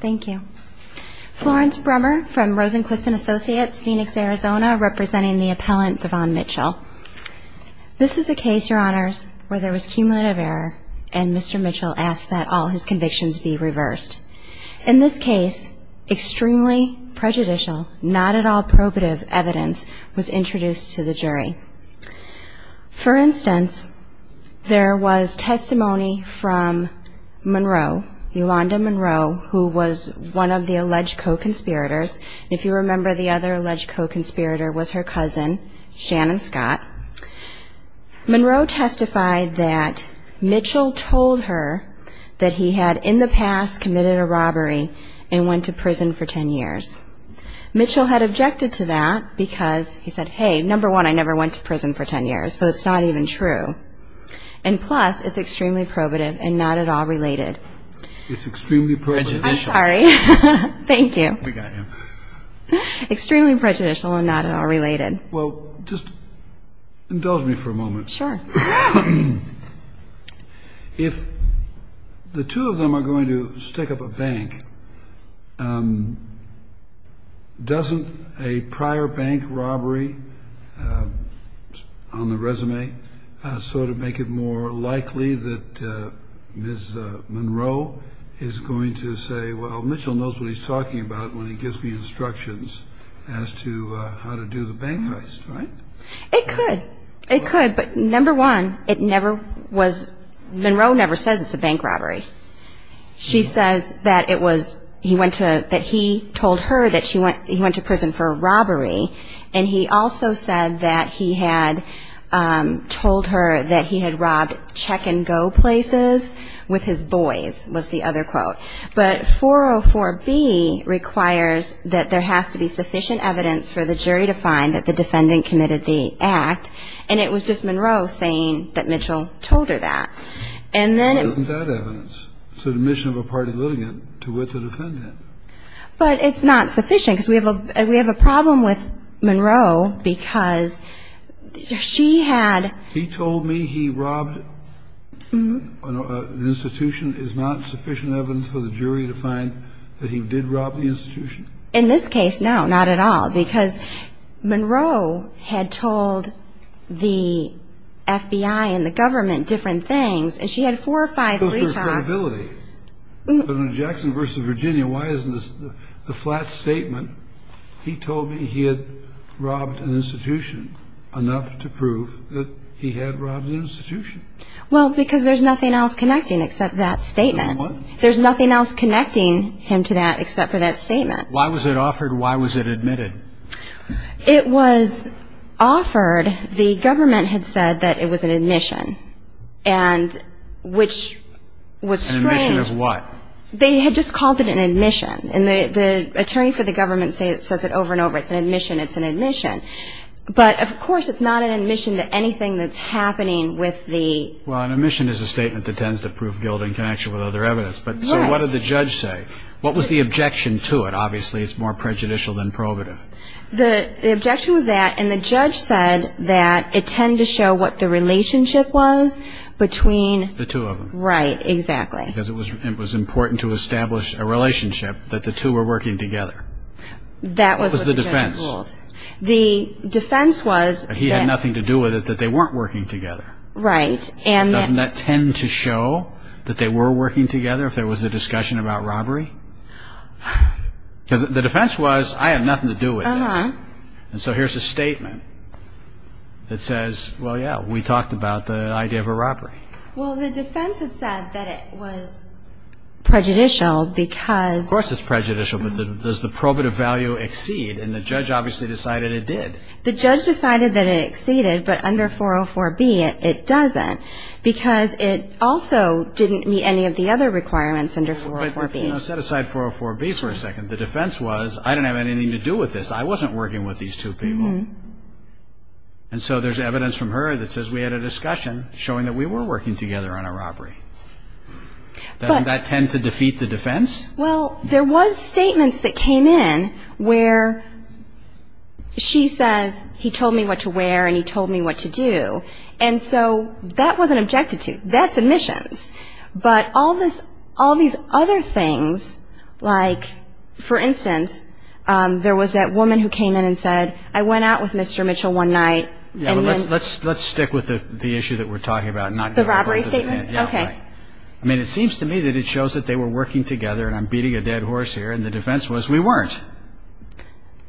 Thank you. Florence Brummer from Rosenquist and Associates, Phoenix, Arizona, representing the appellant Devon Mitchell. This is a case, your honors, where there was cumulative error and Mr. Mitchell asked that all his convictions be reversed. In this case, extremely prejudicial, not at all probative evidence was introduced to the jury. For instance, there was testimony from Monroe, Yolanda Monroe, who was one of the alleged co-conspirators. If you remember, the other alleged co-conspirator was her cousin, Shannon Scott. Monroe testified that Mitchell told her that he had in the past committed a robbery and went to prison for 10 years. Mitchell had objected to that because he said, hey, number one, I never went to prison for 10 years, so it's not even true. And plus, it's extremely probative and not at all related. It's extremely probative. I'm sorry. Thank you. Extremely prejudicial and not at all related. Well, just indulge me for a moment. Sure. If the two of them are going to stick up a bank, doesn't a prior bank robbery on the resume sort of make it more likely that Ms. Monroe is going to say, well, Mitchell knows what he's talking about when he gives me instructions as to how to do the bank heist, right? It could. It could, but number one, it never was – Monroe never says it's a bank robbery. She says that it was – he went to – that he told her that he went to prison for a robbery, and he also said that he had told her that he had robbed check-and-go places with his boys, was the other quote. But 404B requires that there has to be sufficient evidence for the jury to find that the defendant committed the act, and it was just Monroe saying that we have a problem with Monroe because she had – He told me he robbed an institution. Is not sufficient evidence for the jury to find that he did rob the institution? In this case, no, not at all, because Monroe had told the FBI and the government different things, and she had four or five retalks. But in Jackson v. Virginia, why isn't the flat statement, he told me he had robbed an institution, enough to prove that he had robbed an institution? Well, because there's nothing else connecting except that statement. There's nothing else connecting him to that except for that statement. Why was it offered? Why was it admitted? It was offered. The government had said that it was an admission, and which was strange. An admission of what? They had just called it an admission, and the attorney for the government says it over and over. It's an admission. It's an admission. But, of course, it's not an admission to anything that's happening with the – Well, an admission is a statement that tends to prove guilt in connection with other evidence. Right. So what did the judge say? What was the objection to it? Obviously, it's more prejudicial than probative. The objection was that – and the judge said that it tended to show what the relationship was between – The two of them. Right, exactly. Because it was important to establish a relationship, that the two were working together. That was what the judge ruled. What was the defense? The defense was that – He had nothing to do with it, that they weren't working together. Right. Doesn't that tend to show that they were working together if there was a discussion about robbery? Because the defense was, I have nothing to do with this. Uh-huh. And so here's a statement that says, well, yeah, we talked about the idea of a robbery. Well, the defense had said that it was prejudicial because – Of course it's prejudicial, but does the probative value exceed? And the judge obviously decided it did. The judge decided that it exceeded, but under 404B it doesn't because it also didn't meet any of the other requirements under 404B. Set aside 404B for a second. The defense was, I don't have anything to do with this. I wasn't working with these two people. Uh-huh. And so there's evidence from her that says we had a discussion showing that we were working together on a robbery. But – Doesn't that tend to defeat the defense? Well, there was statements that came in where she says, he told me what to wear and he told me what to do. And so that wasn't objected to. That's admissions. But all these other things, like, for instance, there was that woman who came in and said, I went out with Mr. Mitchell one night and then – Yeah, well, let's stick with the issue that we're talking about. The robbery statements? Yeah. Okay. I mean, it seems to me that it shows that they were working together and I'm beating a dead horse here, and the defense was we weren't.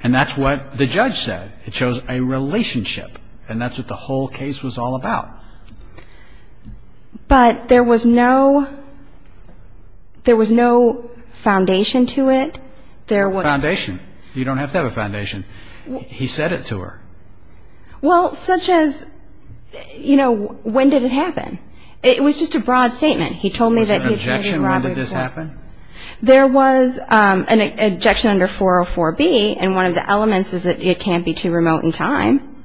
And that's what the judge said. It shows a relationship, and that's what the whole case was all about. But there was no – there was no foundation to it. There was – Foundation. You don't have to have a foundation. He said it to her. Well, such as, you know, when did it happen? It was just a broad statement. He told me that he had – Was there an objection when did this happen? There was an objection under 404B, and one of the elements is that it can't be too remote in time.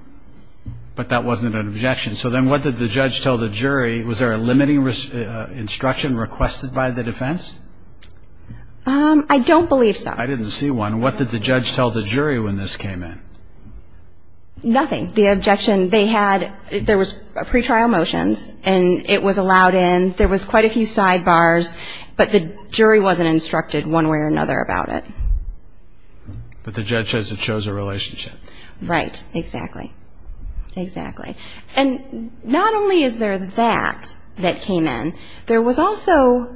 But that wasn't an objection. So then what did the judge tell the jury? Was there a limiting instruction requested by the defense? I don't believe so. I didn't see one. What did the judge tell the jury when this came in? Nothing. There was pretrial motions, and it was allowed in. There was quite a few sidebars, but the jury wasn't instructed one way or another about it. But the judge says it shows a relationship. Right. Exactly. Exactly. And not only is there that that came in, there was also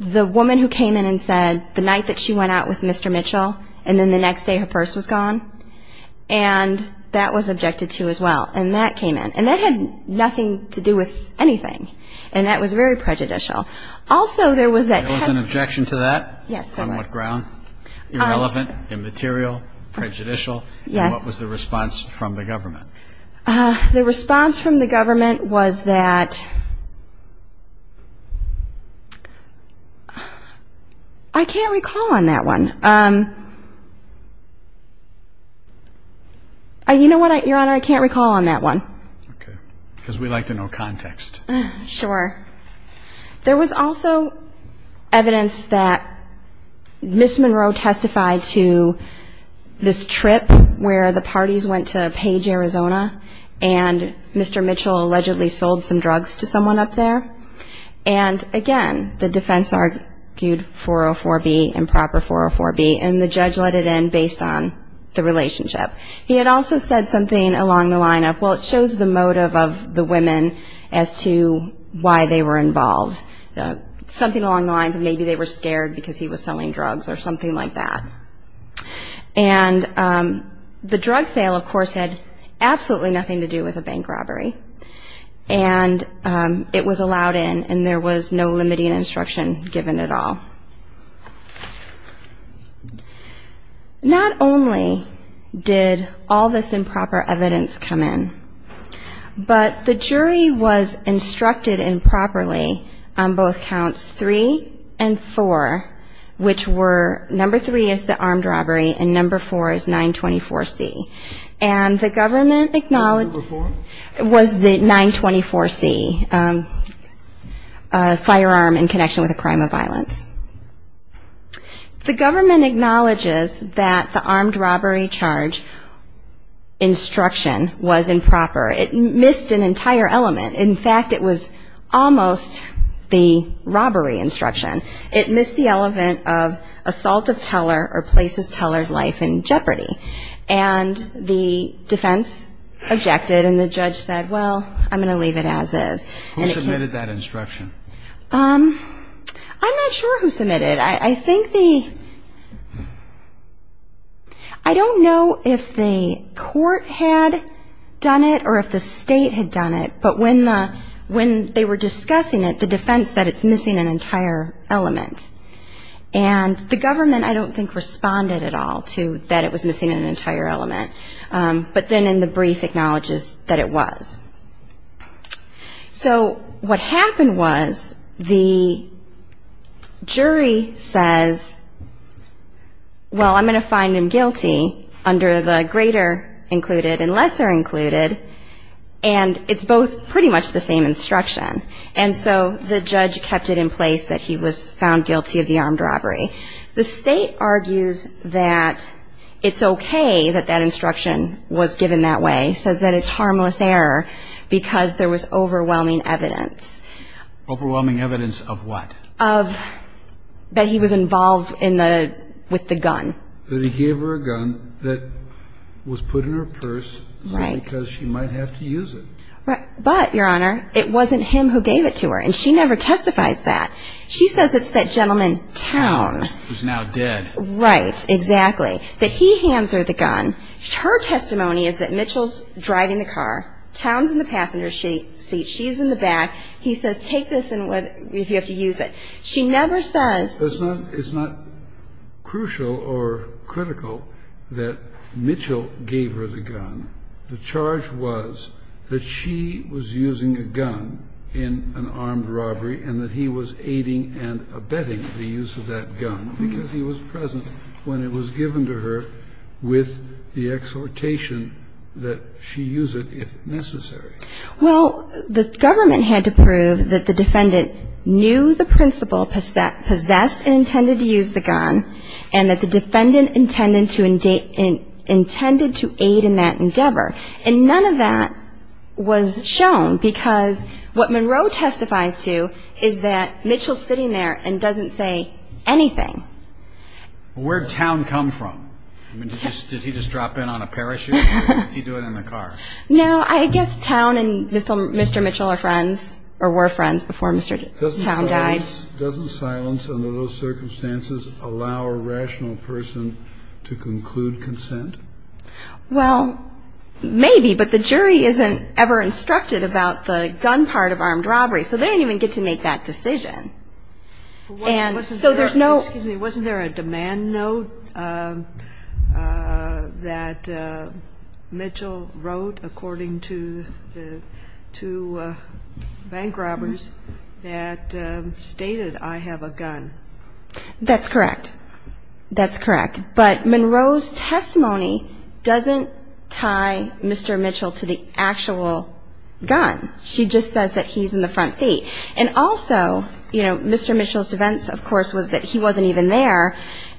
the woman who came in and said the night that she went out with Mr. Mitchell, and then the next day her purse was gone. And that was objected to as well. And that came in. And that had nothing to do with anything, and that was very prejudicial. Also, there was that – There was an objection to that? Yes, there was. On what ground? Irrelevant, immaterial, prejudicial? Yes. And what was the response from the government? The response from the government was that – I can't recall on that one. You know what, Your Honor? I can't recall on that one. Okay. Because we like to know context. Sure. There was also evidence that Ms. Monroe testified to this trip where the parties went to Page, Arizona, and Mr. Mitchell allegedly sold some drugs to someone up there. And, again, the defense argued 404B, improper 404B, and the judge let it in based on the relationship. He had also said something along the line of, well, it shows the motive of the women as to why they were involved. Something along the lines of maybe they were scared because he was selling drugs or something like that. And the drug sale, of course, had absolutely nothing to do with a bank robbery. And it was allowed in, and there was no limiting instruction given at all. Not only did all this improper evidence come in, but the jury was instructed improperly on both counts three and four, which were number three is the armed robbery and number four is 924C. And the government acknowledged it was the 924C firearm in connection with a crime of violence. The government acknowledges that the armed robbery charge instruction was improper. It missed an entire element. In fact, it was almost the robbery instruction. It missed the element of assault of teller or places teller's life in jeopardy. And the defense objected, and the judge said, well, I'm going to leave it as is. Who submitted that instruction? I'm not sure who submitted it. I think the — I don't know if the court had done it or if the state had done it, but when they were discussing it, the defense said it's missing an entire element. And the government, I don't think, responded at all to that it was missing an entire element. But then in the brief acknowledges that it was. So what happened was the jury says, well, I'm going to find him guilty under the greater included and lesser included, and it's both pretty much the same instruction. And so the judge kept it in place that he was found guilty of the armed robbery. The state argues that it's okay that that instruction was given that way, says that it's harmless error because there was overwhelming evidence. Overwhelming evidence of what? Of that he was involved in the — with the gun. That he gave her a gun that was put in her purse simply because she might have to use it. But, Your Honor, it wasn't him who gave it to her, and she never testifies that. She says it's that gentleman Towne. Who's now dead. Right, exactly, that he hands her the gun. Her testimony is that Mitchell's driving the car. Towne's in the passenger seat. She's in the back. He says take this if you have to use it. She never says. It's not crucial or critical that Mitchell gave her the gun. The charge was that she was using a gun in an armed robbery and that he was aiding and abetting the use of that gun because he was present when it was given to her with the exhortation that she use it if necessary. Well, the government had to prove that the defendant knew the principle, possessed and intended to use the gun, and that the defendant intended to aid in that endeavor. And none of that was shown because what Monroe testifies to is that Mitchell's sitting there and doesn't say anything. Where'd Towne come from? Did he just drop in on a parachute or was he doing it in the car? No, I guess Towne and Mr. Mitchell were friends before Mr. Towne died. Doesn't silence under those circumstances allow a rational person to conclude consent? Well, maybe, but the jury isn't ever instructed about the gun part of armed robbery, so they don't even get to make that decision. Wasn't there a demand note that Mitchell wrote according to bank robbers that stated, I have a gun? That's correct. That's correct. But Monroe's testimony doesn't tie Mr. Mitchell to the actual gun. She just says that he's in the front seat. And also, you know, Mr. Mitchell's defense, of course, was that he wasn't even there.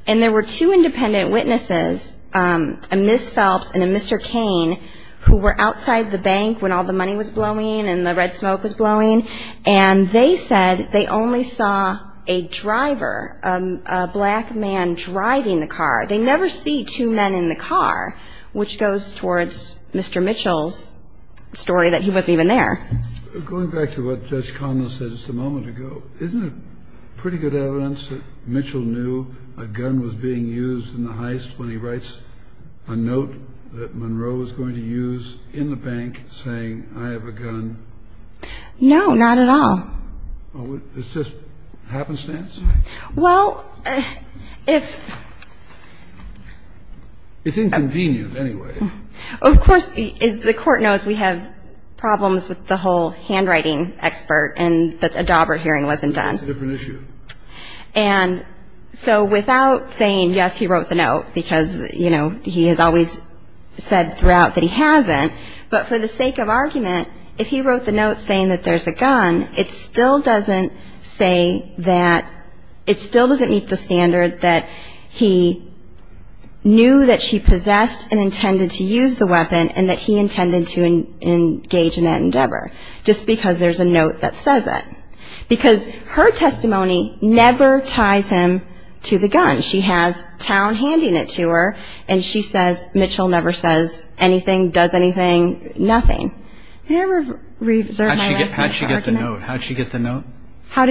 And there were two independent witnesses, a Ms. Phelps and a Mr. Cain, who were outside the bank when all the money was blowing and the red smoke was blowing, and they said they only saw a driver, a black man driving the car. They never see two men in the car, which goes towards Mr. Mitchell's story that he wasn't even there. Going back to what Judge Connell said just a moment ago, isn't it pretty good evidence that Mitchell knew a gun was being used in the heist when he writes a note that Monroe was going to use in the bank saying, I have a gun? No, not at all. It's just happenstance? Well, if the court knows we have problems with the whole thing, it's just a matter of the whole handwriting expert and a dauber hearing wasn't done. That's a different issue. And so without saying, yes, he wrote the note, because, you know, he has always said throughout that he hasn't, but for the sake of argument, if he wrote the note saying that there's a gun, it still doesn't say that it still doesn't meet the standard that he knew that she possessed and intended to use the weapon and that he intended to engage in that endeavor, just because there's a note that says that. Because her testimony never ties him to the gun. She has Towne handing it to her, and she says Mitchell never says anything, does anything, nothing. How did she get the note? How did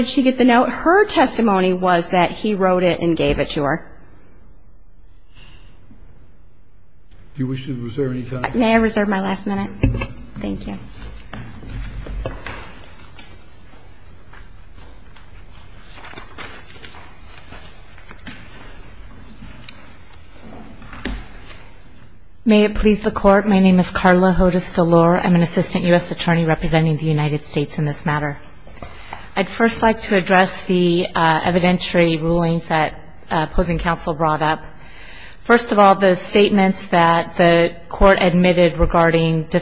she get the note? Her testimony was that he wrote it and gave it to her. Do you wish to reserve any time? May I reserve my last minute? Thank you. May it please the Court. My name is Carla Hodes DeLore. I'm an assistant U.S. attorney representing the United States in this matter. I'd first like to address the evidentiary rulings that opposing counsel brought up. First of all, the statements that the Court admitted regarding the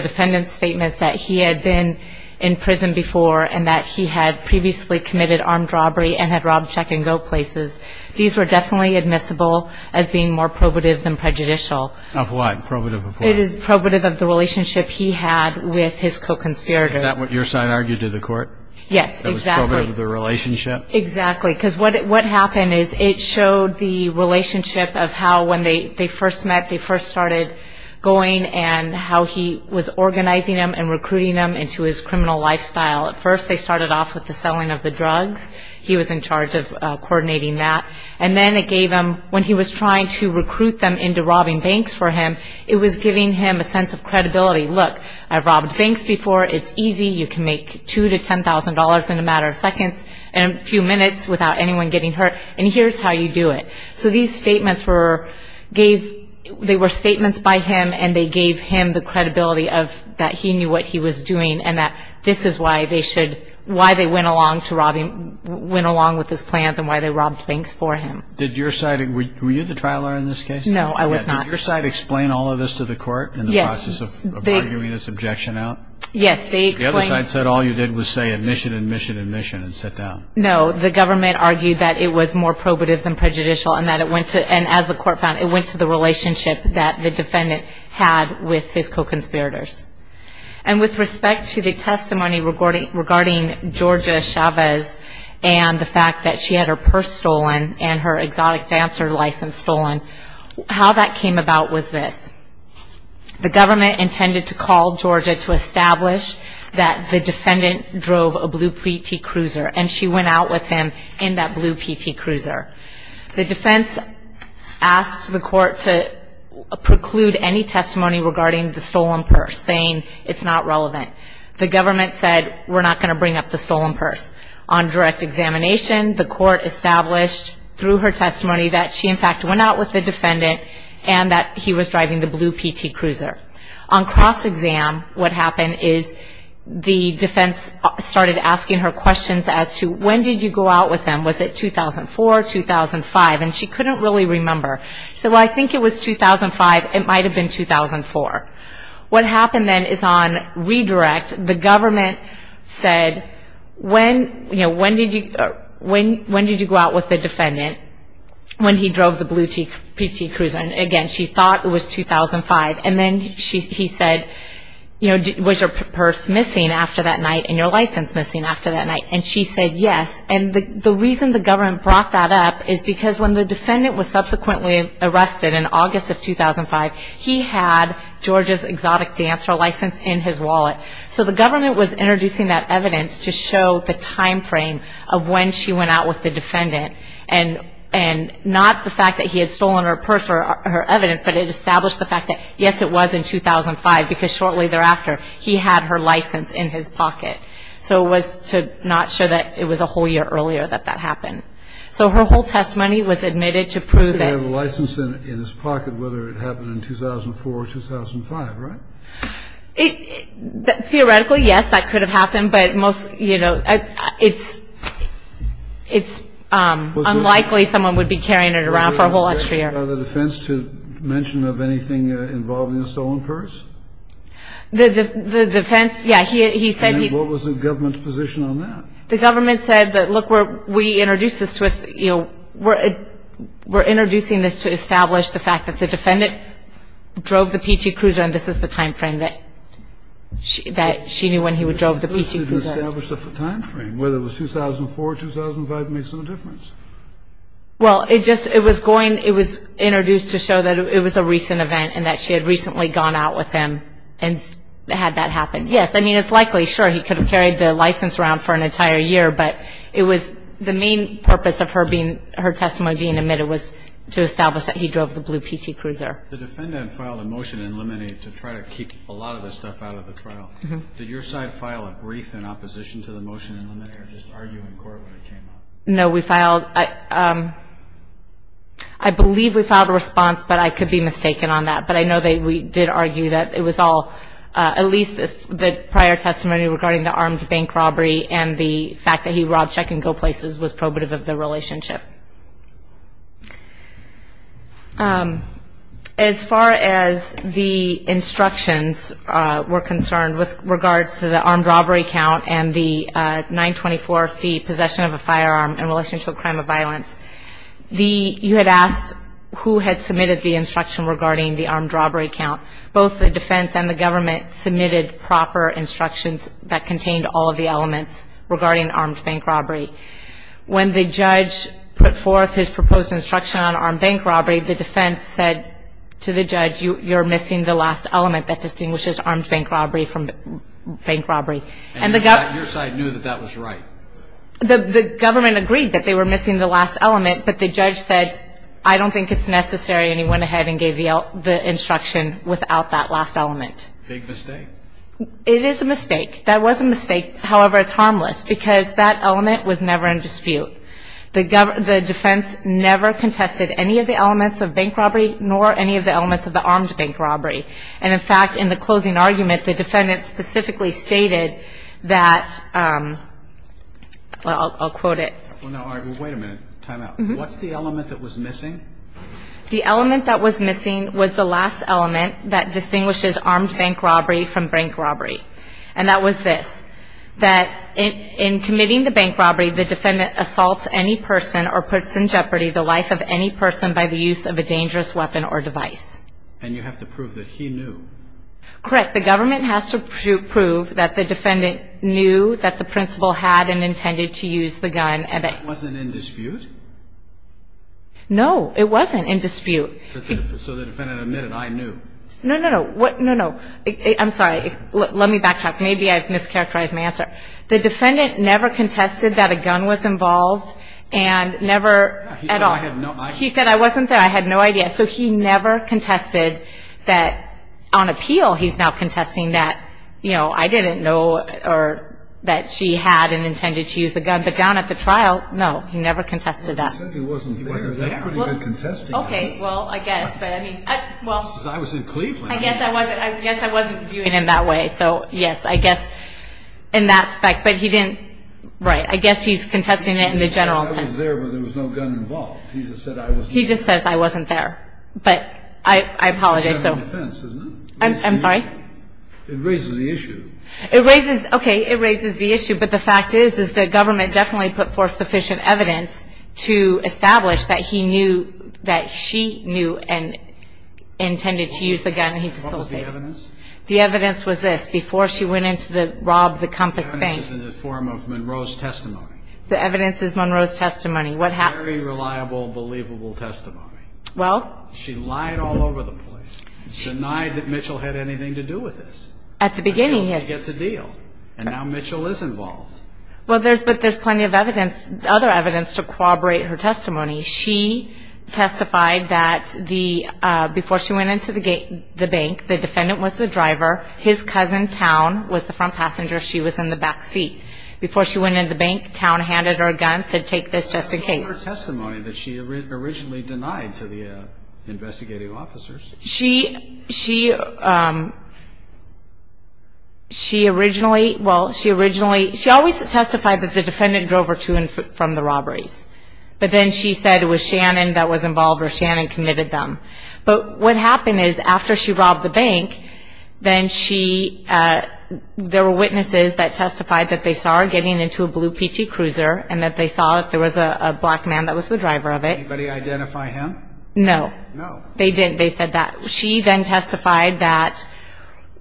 defendant's statements that he had been in prison before and that he had previously committed armed robbery and had robbed check-and-go places, these were definitely admissible as being more probative than prejudicial. Of what? Probative of what? It is probative of the relationship he had with his co-conspirators. Is that what your side argued to the Court? Yes, exactly. It was probative of the relationship? Exactly. Because what happened is it showed the relationship of how when they first met, they first started going and how he was organizing them and recruiting them into his criminal lifestyle. At first, they started off with the selling of the drugs. He was in charge of coordinating that. And then it gave him, when he was trying to recruit them into robbing banks for him, it was giving him a sense of credibility. Look, I've robbed banks before. It's easy. You can make $2,000 to $10,000 in a matter of seconds and a few minutes without anyone getting hurt, and here's how you do it. So these statements were statements by him, and they gave him the credibility that he knew what he was doing and that this is why they went along with his plans and why they robbed banks for him. Were you the trial lawyer in this case? No, I was not. Did your side explain all of this to the court in the process of arguing this objection out? Yes. The other side said all you did was say admission, admission, admission, and sit down. No, the government argued that it was more probative than prejudicial and that it went to, and as the court found, it went to the relationship that the defendant had with his co-conspirators. And with respect to the testimony regarding Georgia Chavez and the fact that she had her purse stolen and her exotic dancer license stolen, how that came about was this. The government intended to call Georgia to establish that the defendant drove a blue PT cruiser and she went out with him in that blue PT cruiser. The defense asked the court to preclude any testimony regarding the stolen purse, saying it's not relevant. The government said we're not going to bring up the stolen purse. On direct examination, the court established through her testimony that she, in fact, went out with the defendant and that he was driving the blue PT cruiser. On cross-exam, what happened is the defense started asking her questions as to when did you go out with him, was it 2004, 2005, and she couldn't really remember. She said, well, I think it was 2005, it might have been 2004. What happened then is on redirect, the government said, when did you go out with the defendant when he drove the blue PT cruiser? Again, she thought it was 2005. And then he said, was your purse missing after that night and your license missing after that night? And she said yes. And the reason the government brought that up is because when the defendant was subsequently arrested in August of 2005, he had Georgia's exotic dancer license in his wallet. So the government was introducing that evidence to show the timeframe of when she went out with the defendant and not the fact that he had stolen her purse or her evidence, but it established the fact that, yes, it was in 2005 because shortly thereafter, he had her license in his pocket. So it was to not show that it was a whole year earlier that that happened. So her whole testimony was admitted to prove that. He had a license in his pocket, whether it happened in 2004 or 2005, right? Theoretically, yes, that could have happened. But, you know, it's unlikely someone would be carrying it around for a whole extra year. Was there any other defense to mention of anything involving a stolen purse? The defense, yeah, he said he. And what was the government's position on that? The government said that, look, we introduced this to us, you know, we're introducing this to establish the fact that the defendant drove the P.T. Cruiser and this is the timeframe that she knew when he drove the P.T. Cruiser. Established the timeframe, whether it was 2004, 2005, made some difference. Well, it just, it was going, it was introduced to show that it was a recent event and that she had recently gone out with him and had that happen. Yes, I mean, it's likely, sure, he could have carried the license around for an entire year, but it was the main purpose of her being, her testimony being admitted was to establish that he drove the blue P.T. Cruiser. The defendant filed a motion in limine to try to keep a lot of the stuff out of the trial. Did your side file a brief in opposition to the motion in limine or just argue in court when it came out? No, we filed, I believe we filed a response, but I could be mistaken on that. But I know that we did argue that it was all, at least the prior testimony regarding the armed bank robbery and the fact that he robbed check and go places was probative of the relationship. As far as the instructions were concerned with regards to the armed robbery count and the 924C, possession of a firearm in relationship to a crime of violence, you had asked who had submitted the instruction regarding the armed robbery count. Both the defense and the government submitted proper instructions that contained all of the elements regarding armed bank robbery. When the judge put forth his proposed instruction on armed bank robbery, the defense said to the judge, you're missing the last element that distinguishes armed bank robbery from bank robbery. And your side knew that that was right? The government agreed that they were missing the last element, but the judge said I don't think it's necessary and he went ahead and gave the instruction without that last element. Big mistake? It is a mistake. That was a mistake. However, it's harmless because that element was never in dispute. The defense never contested any of the elements of bank robbery nor any of the elements of the armed bank robbery. And in fact, in the closing argument, the defendant specifically stated that, I'll quote it. Wait a minute. Time out. What's the element that was missing? The element that was missing was the last element that distinguishes armed bank robbery from bank robbery. And that was this. That in committing the bank robbery, the defendant assaults any person or puts in jeopardy the life of any person by the use of a dangerous weapon or device. And you have to prove that he knew. Correct. The government has to prove that the defendant knew that the principal had and intended to use the gun. That wasn't in dispute? No, it wasn't in dispute. So the defendant admitted I knew. No, no, no. I'm sorry. Let me backtrack. Maybe I've mischaracterized my answer. The defendant never contested that a gun was involved and never at all. He said I had no idea. He said I wasn't there. I had no idea. So he never contested that on appeal he's now contesting that, you know, I didn't know that she had and intended to use a gun. But down at the trial, no, he never contested that. He said he wasn't there. He wasn't there. That's pretty good contesting. Okay, well, I guess. Because I was in Cleveland. I guess I wasn't viewing him that way. So, yes, I guess in that respect. But he didn't. Right. I guess he's contesting it in the general sense. He said I was there, but there was no gun involved. He just says I wasn't there. But I apologize. I'm sorry. It raises the issue. Okay, it raises the issue. But the fact is, is the government definitely put forth sufficient evidence to establish that he knew that she knew and intended to use a gun. What was the evidence? The evidence was this. Before she went in to rob the Compass Bank. The evidence is in the form of Monroe's testimony. The evidence is Monroe's testimony. Very reliable, believable testimony. Well. She lied all over the place. Denied that Mitchell had anything to do with this. At the beginning. Until she gets a deal. And now Mitchell is involved. Well, but there's plenty of evidence, other evidence, to corroborate her testimony. She testified that before she went into the bank, the defendant was the driver. His cousin, Towne, was the front passenger. She was in the back seat. Before she went into the bank, Towne handed her a gun, said, Take this just in case. What about her testimony that she originally denied to the investigating officers? She originally, well, she originally, she always testified that the defendant drove her to and from the robberies. But then she said it was Shannon that was involved or Shannon committed them. But what happened is, after she robbed the bank, then she, there were witnesses that testified that they saw her getting into a blue PT cruiser and that they saw that there was a black man that was the driver of it. Did anybody identify him? No. No. They didn't. They said that. She then testified that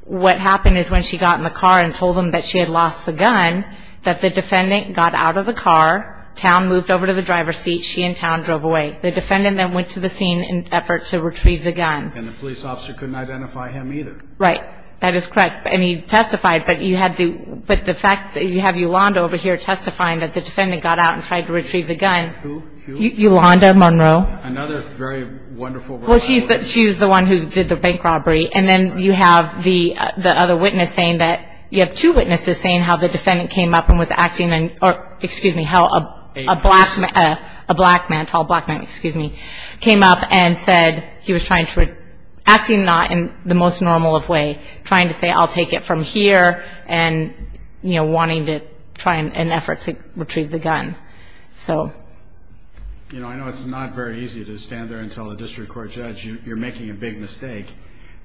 what happened is when she got in the car and told them that she had lost the gun, that the defendant got out of the car, Towne moved over to the driver's seat, she and Towne drove away. The defendant then went to the scene in an effort to retrieve the gun. And the police officer couldn't identify him either. Right. That is correct. And he testified, but you had the fact that you have Yolanda over here testifying that the defendant got out and tried to retrieve the gun. Who? Yolanda Monroe. Another very wonderful woman. Well, she's the one who did the bank robbery. And then you have the other witness saying that, you have two witnesses saying how the defendant came up and was acting, or excuse me, how a black man, a tall black man, excuse me, came up and said he was trying to, acting not in the most normal way, trying to say I'll take it from here and, you know, wanting to try in an effort to retrieve the gun. So. You know, I know it's not very easy to stand there and tell a district court judge you're making a big mistake,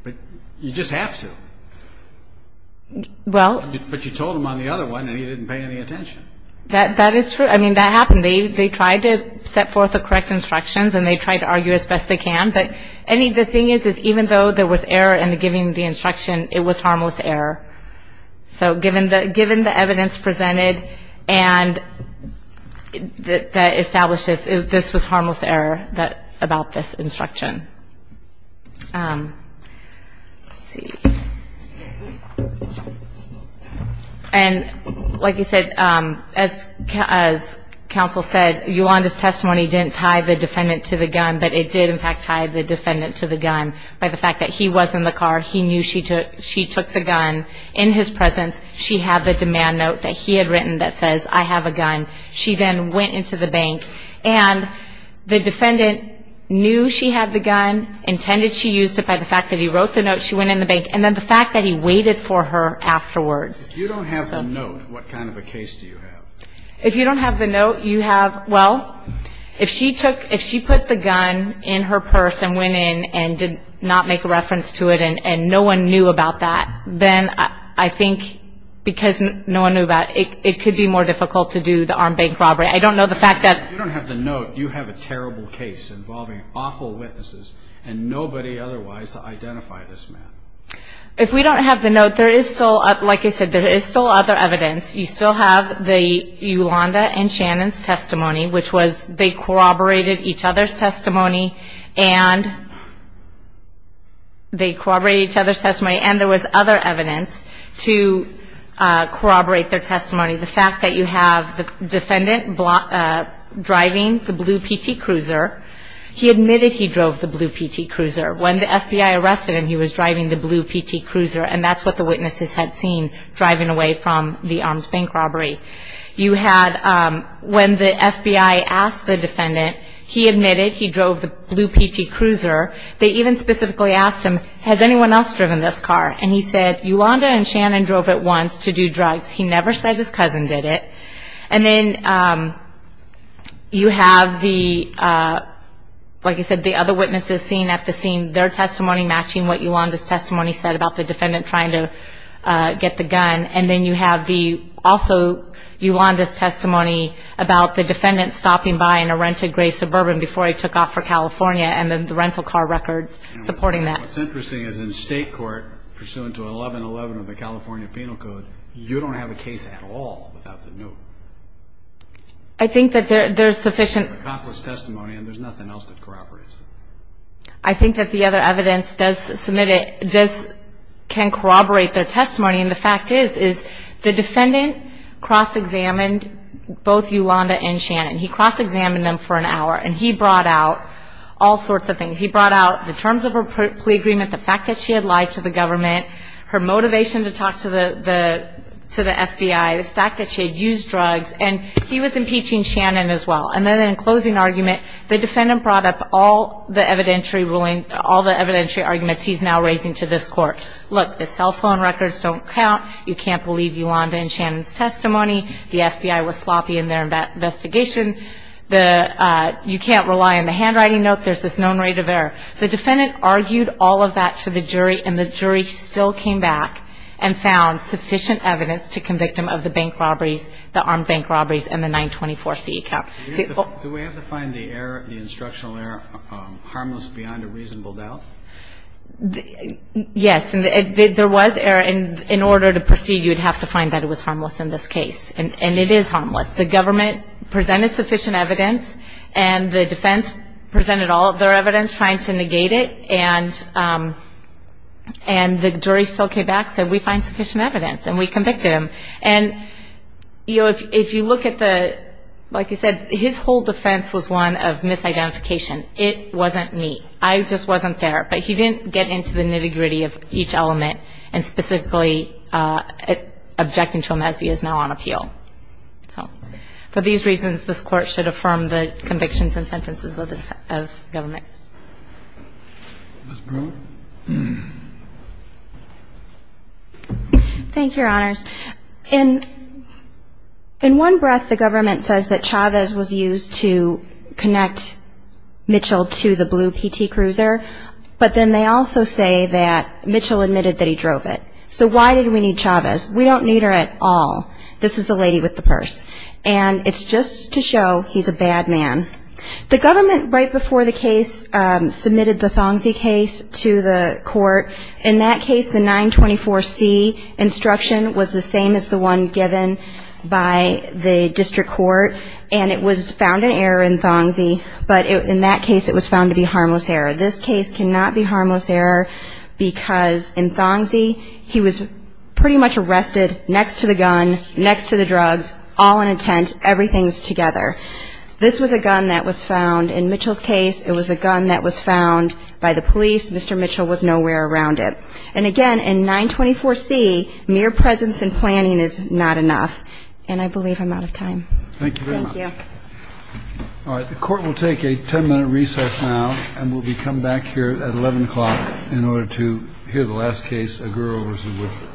but you just have to. Well. But you told him on the other one and he didn't pay any attention. That is true. I mean, that happened. And they tried to set forth the correct instructions and they tried to argue as best they can. But the thing is, is even though there was error in giving the instruction, it was harmless error. So given the evidence presented and that establishes this was harmless error about this instruction. Let's see. And like you said, as counsel said, Yolanda's testimony didn't tie the defendant to the gun, but it did in fact tie the defendant to the gun by the fact that he was in the car, he knew she took the gun. In his presence, she had the demand note that he had written that says, I have a gun. She then went into the bank. And the defendant knew she had the gun, intended she used it by the fact that he wrote the note, she went in the bank, and then the fact that he waited for her afterwards. If you don't have the note, what kind of a case do you have? If you don't have the note, you have, well, if she took, if she put the gun in her purse and went in and did not make a reference to it and no one knew about that, then I think because no one knew about it, it could be more difficult to do the armed bank robbery. I don't know the fact that. If you don't have the note, you have a terrible case involving awful witnesses and nobody otherwise to identify this man. If we don't have the note, there is still, like I said, there is still other evidence. You still have the Yolanda and Shannon's testimony, which was they corroborated each other's testimony and they corroborated each other's testimony and there was other evidence to corroborate their testimony. The fact that you have the defendant driving the blue PT Cruiser, he admitted he drove the blue PT Cruiser. When the FBI arrested him, he was driving the blue PT Cruiser and that's what the witnesses had seen driving away from the armed bank robbery. You had, when the FBI asked the defendant, he admitted he drove the blue PT Cruiser. They even specifically asked him, has anyone else driven this car? And he said, Yolanda and Shannon drove it once to do drugs. He never said his cousin did it. And then you have the, like I said, the other witnesses seen at the scene, their testimony matching what Yolanda's testimony said about the defendant trying to get the gun. And then you have also Yolanda's testimony about the defendant stopping by in a rented gray Suburban before he took off for California and then the rental car records supporting that. What's interesting is in state court, pursuant to 1111 of the California Penal Code, you don't have a case at all without the note. I think that there's sufficient. It's an accomplished testimony and there's nothing else that corroborates it. I think that the other evidence does submit it, can corroborate their testimony. And the fact is, is the defendant cross-examined both Yolanda and Shannon. He cross-examined them for an hour and he brought out all sorts of things. He brought out the terms of her plea agreement, the fact that she had lied to the government, her motivation to talk to the FBI, the fact that she had used drugs, and he was impeaching Shannon as well. And then in closing argument, the defendant brought up all the evidentiary arguments he's now raising to this court. Look, the cell phone records don't count. You can't believe Yolanda and Shannon's testimony. The FBI was sloppy in their investigation. You can't rely on the handwriting note. There's this known rate of error. The defendant argued all of that to the jury and the jury still came back and found sufficient evidence to convict him of the bank robberies, the armed bank robberies, and the 924CE count. Do we have to find the error, the instructional error, harmless beyond a reasonable doubt? Yes. There was error. And in order to proceed, you would have to find that it was harmless in this case. And it is harmless. The government presented sufficient evidence and the defense presented all of their evidence trying to negate it, and the jury still came back and said we find sufficient evidence, and we convicted him. And, you know, if you look at the, like I said, his whole defense was one of misidentification. It wasn't me. I just wasn't there. But he didn't get into the nitty-gritty of each element and specifically objecting to him as he is now on appeal. So for these reasons, this Court should affirm the convictions and sentences of government. Ms. Brewer. Thank you, Your Honors. In one breath, the government says that Chavez was used to connect Mitchell to the blue PT cruiser, but then they also say that Mitchell admitted that he drove it. So why did we need Chavez? We don't need her at all. This is the lady with the purse. And it's just to show he's a bad man. The government, right before the case, submitted the Thongzi case to the court. In that case, the 924C instruction was the same as the one given by the district court, and it was found in error in Thongzi, but in that case it was found to be harmless error. This case cannot be harmless error because in Thongzi he was pretty much arrested next to the gun, next to the drugs, all in intent, everything's together. This was a gun that was found in Mitchell's case. It was a gun that was found by the police. Mr. Mitchell was nowhere around it. And, again, in 924C, mere presence and planning is not enough. And I believe I'm out of time. Thank you very much. Thank you. All right. The court will take a 10-minute recess now, and we'll be coming back here at 11 o'clock in order to hear the last case, Aguro v. Woodford.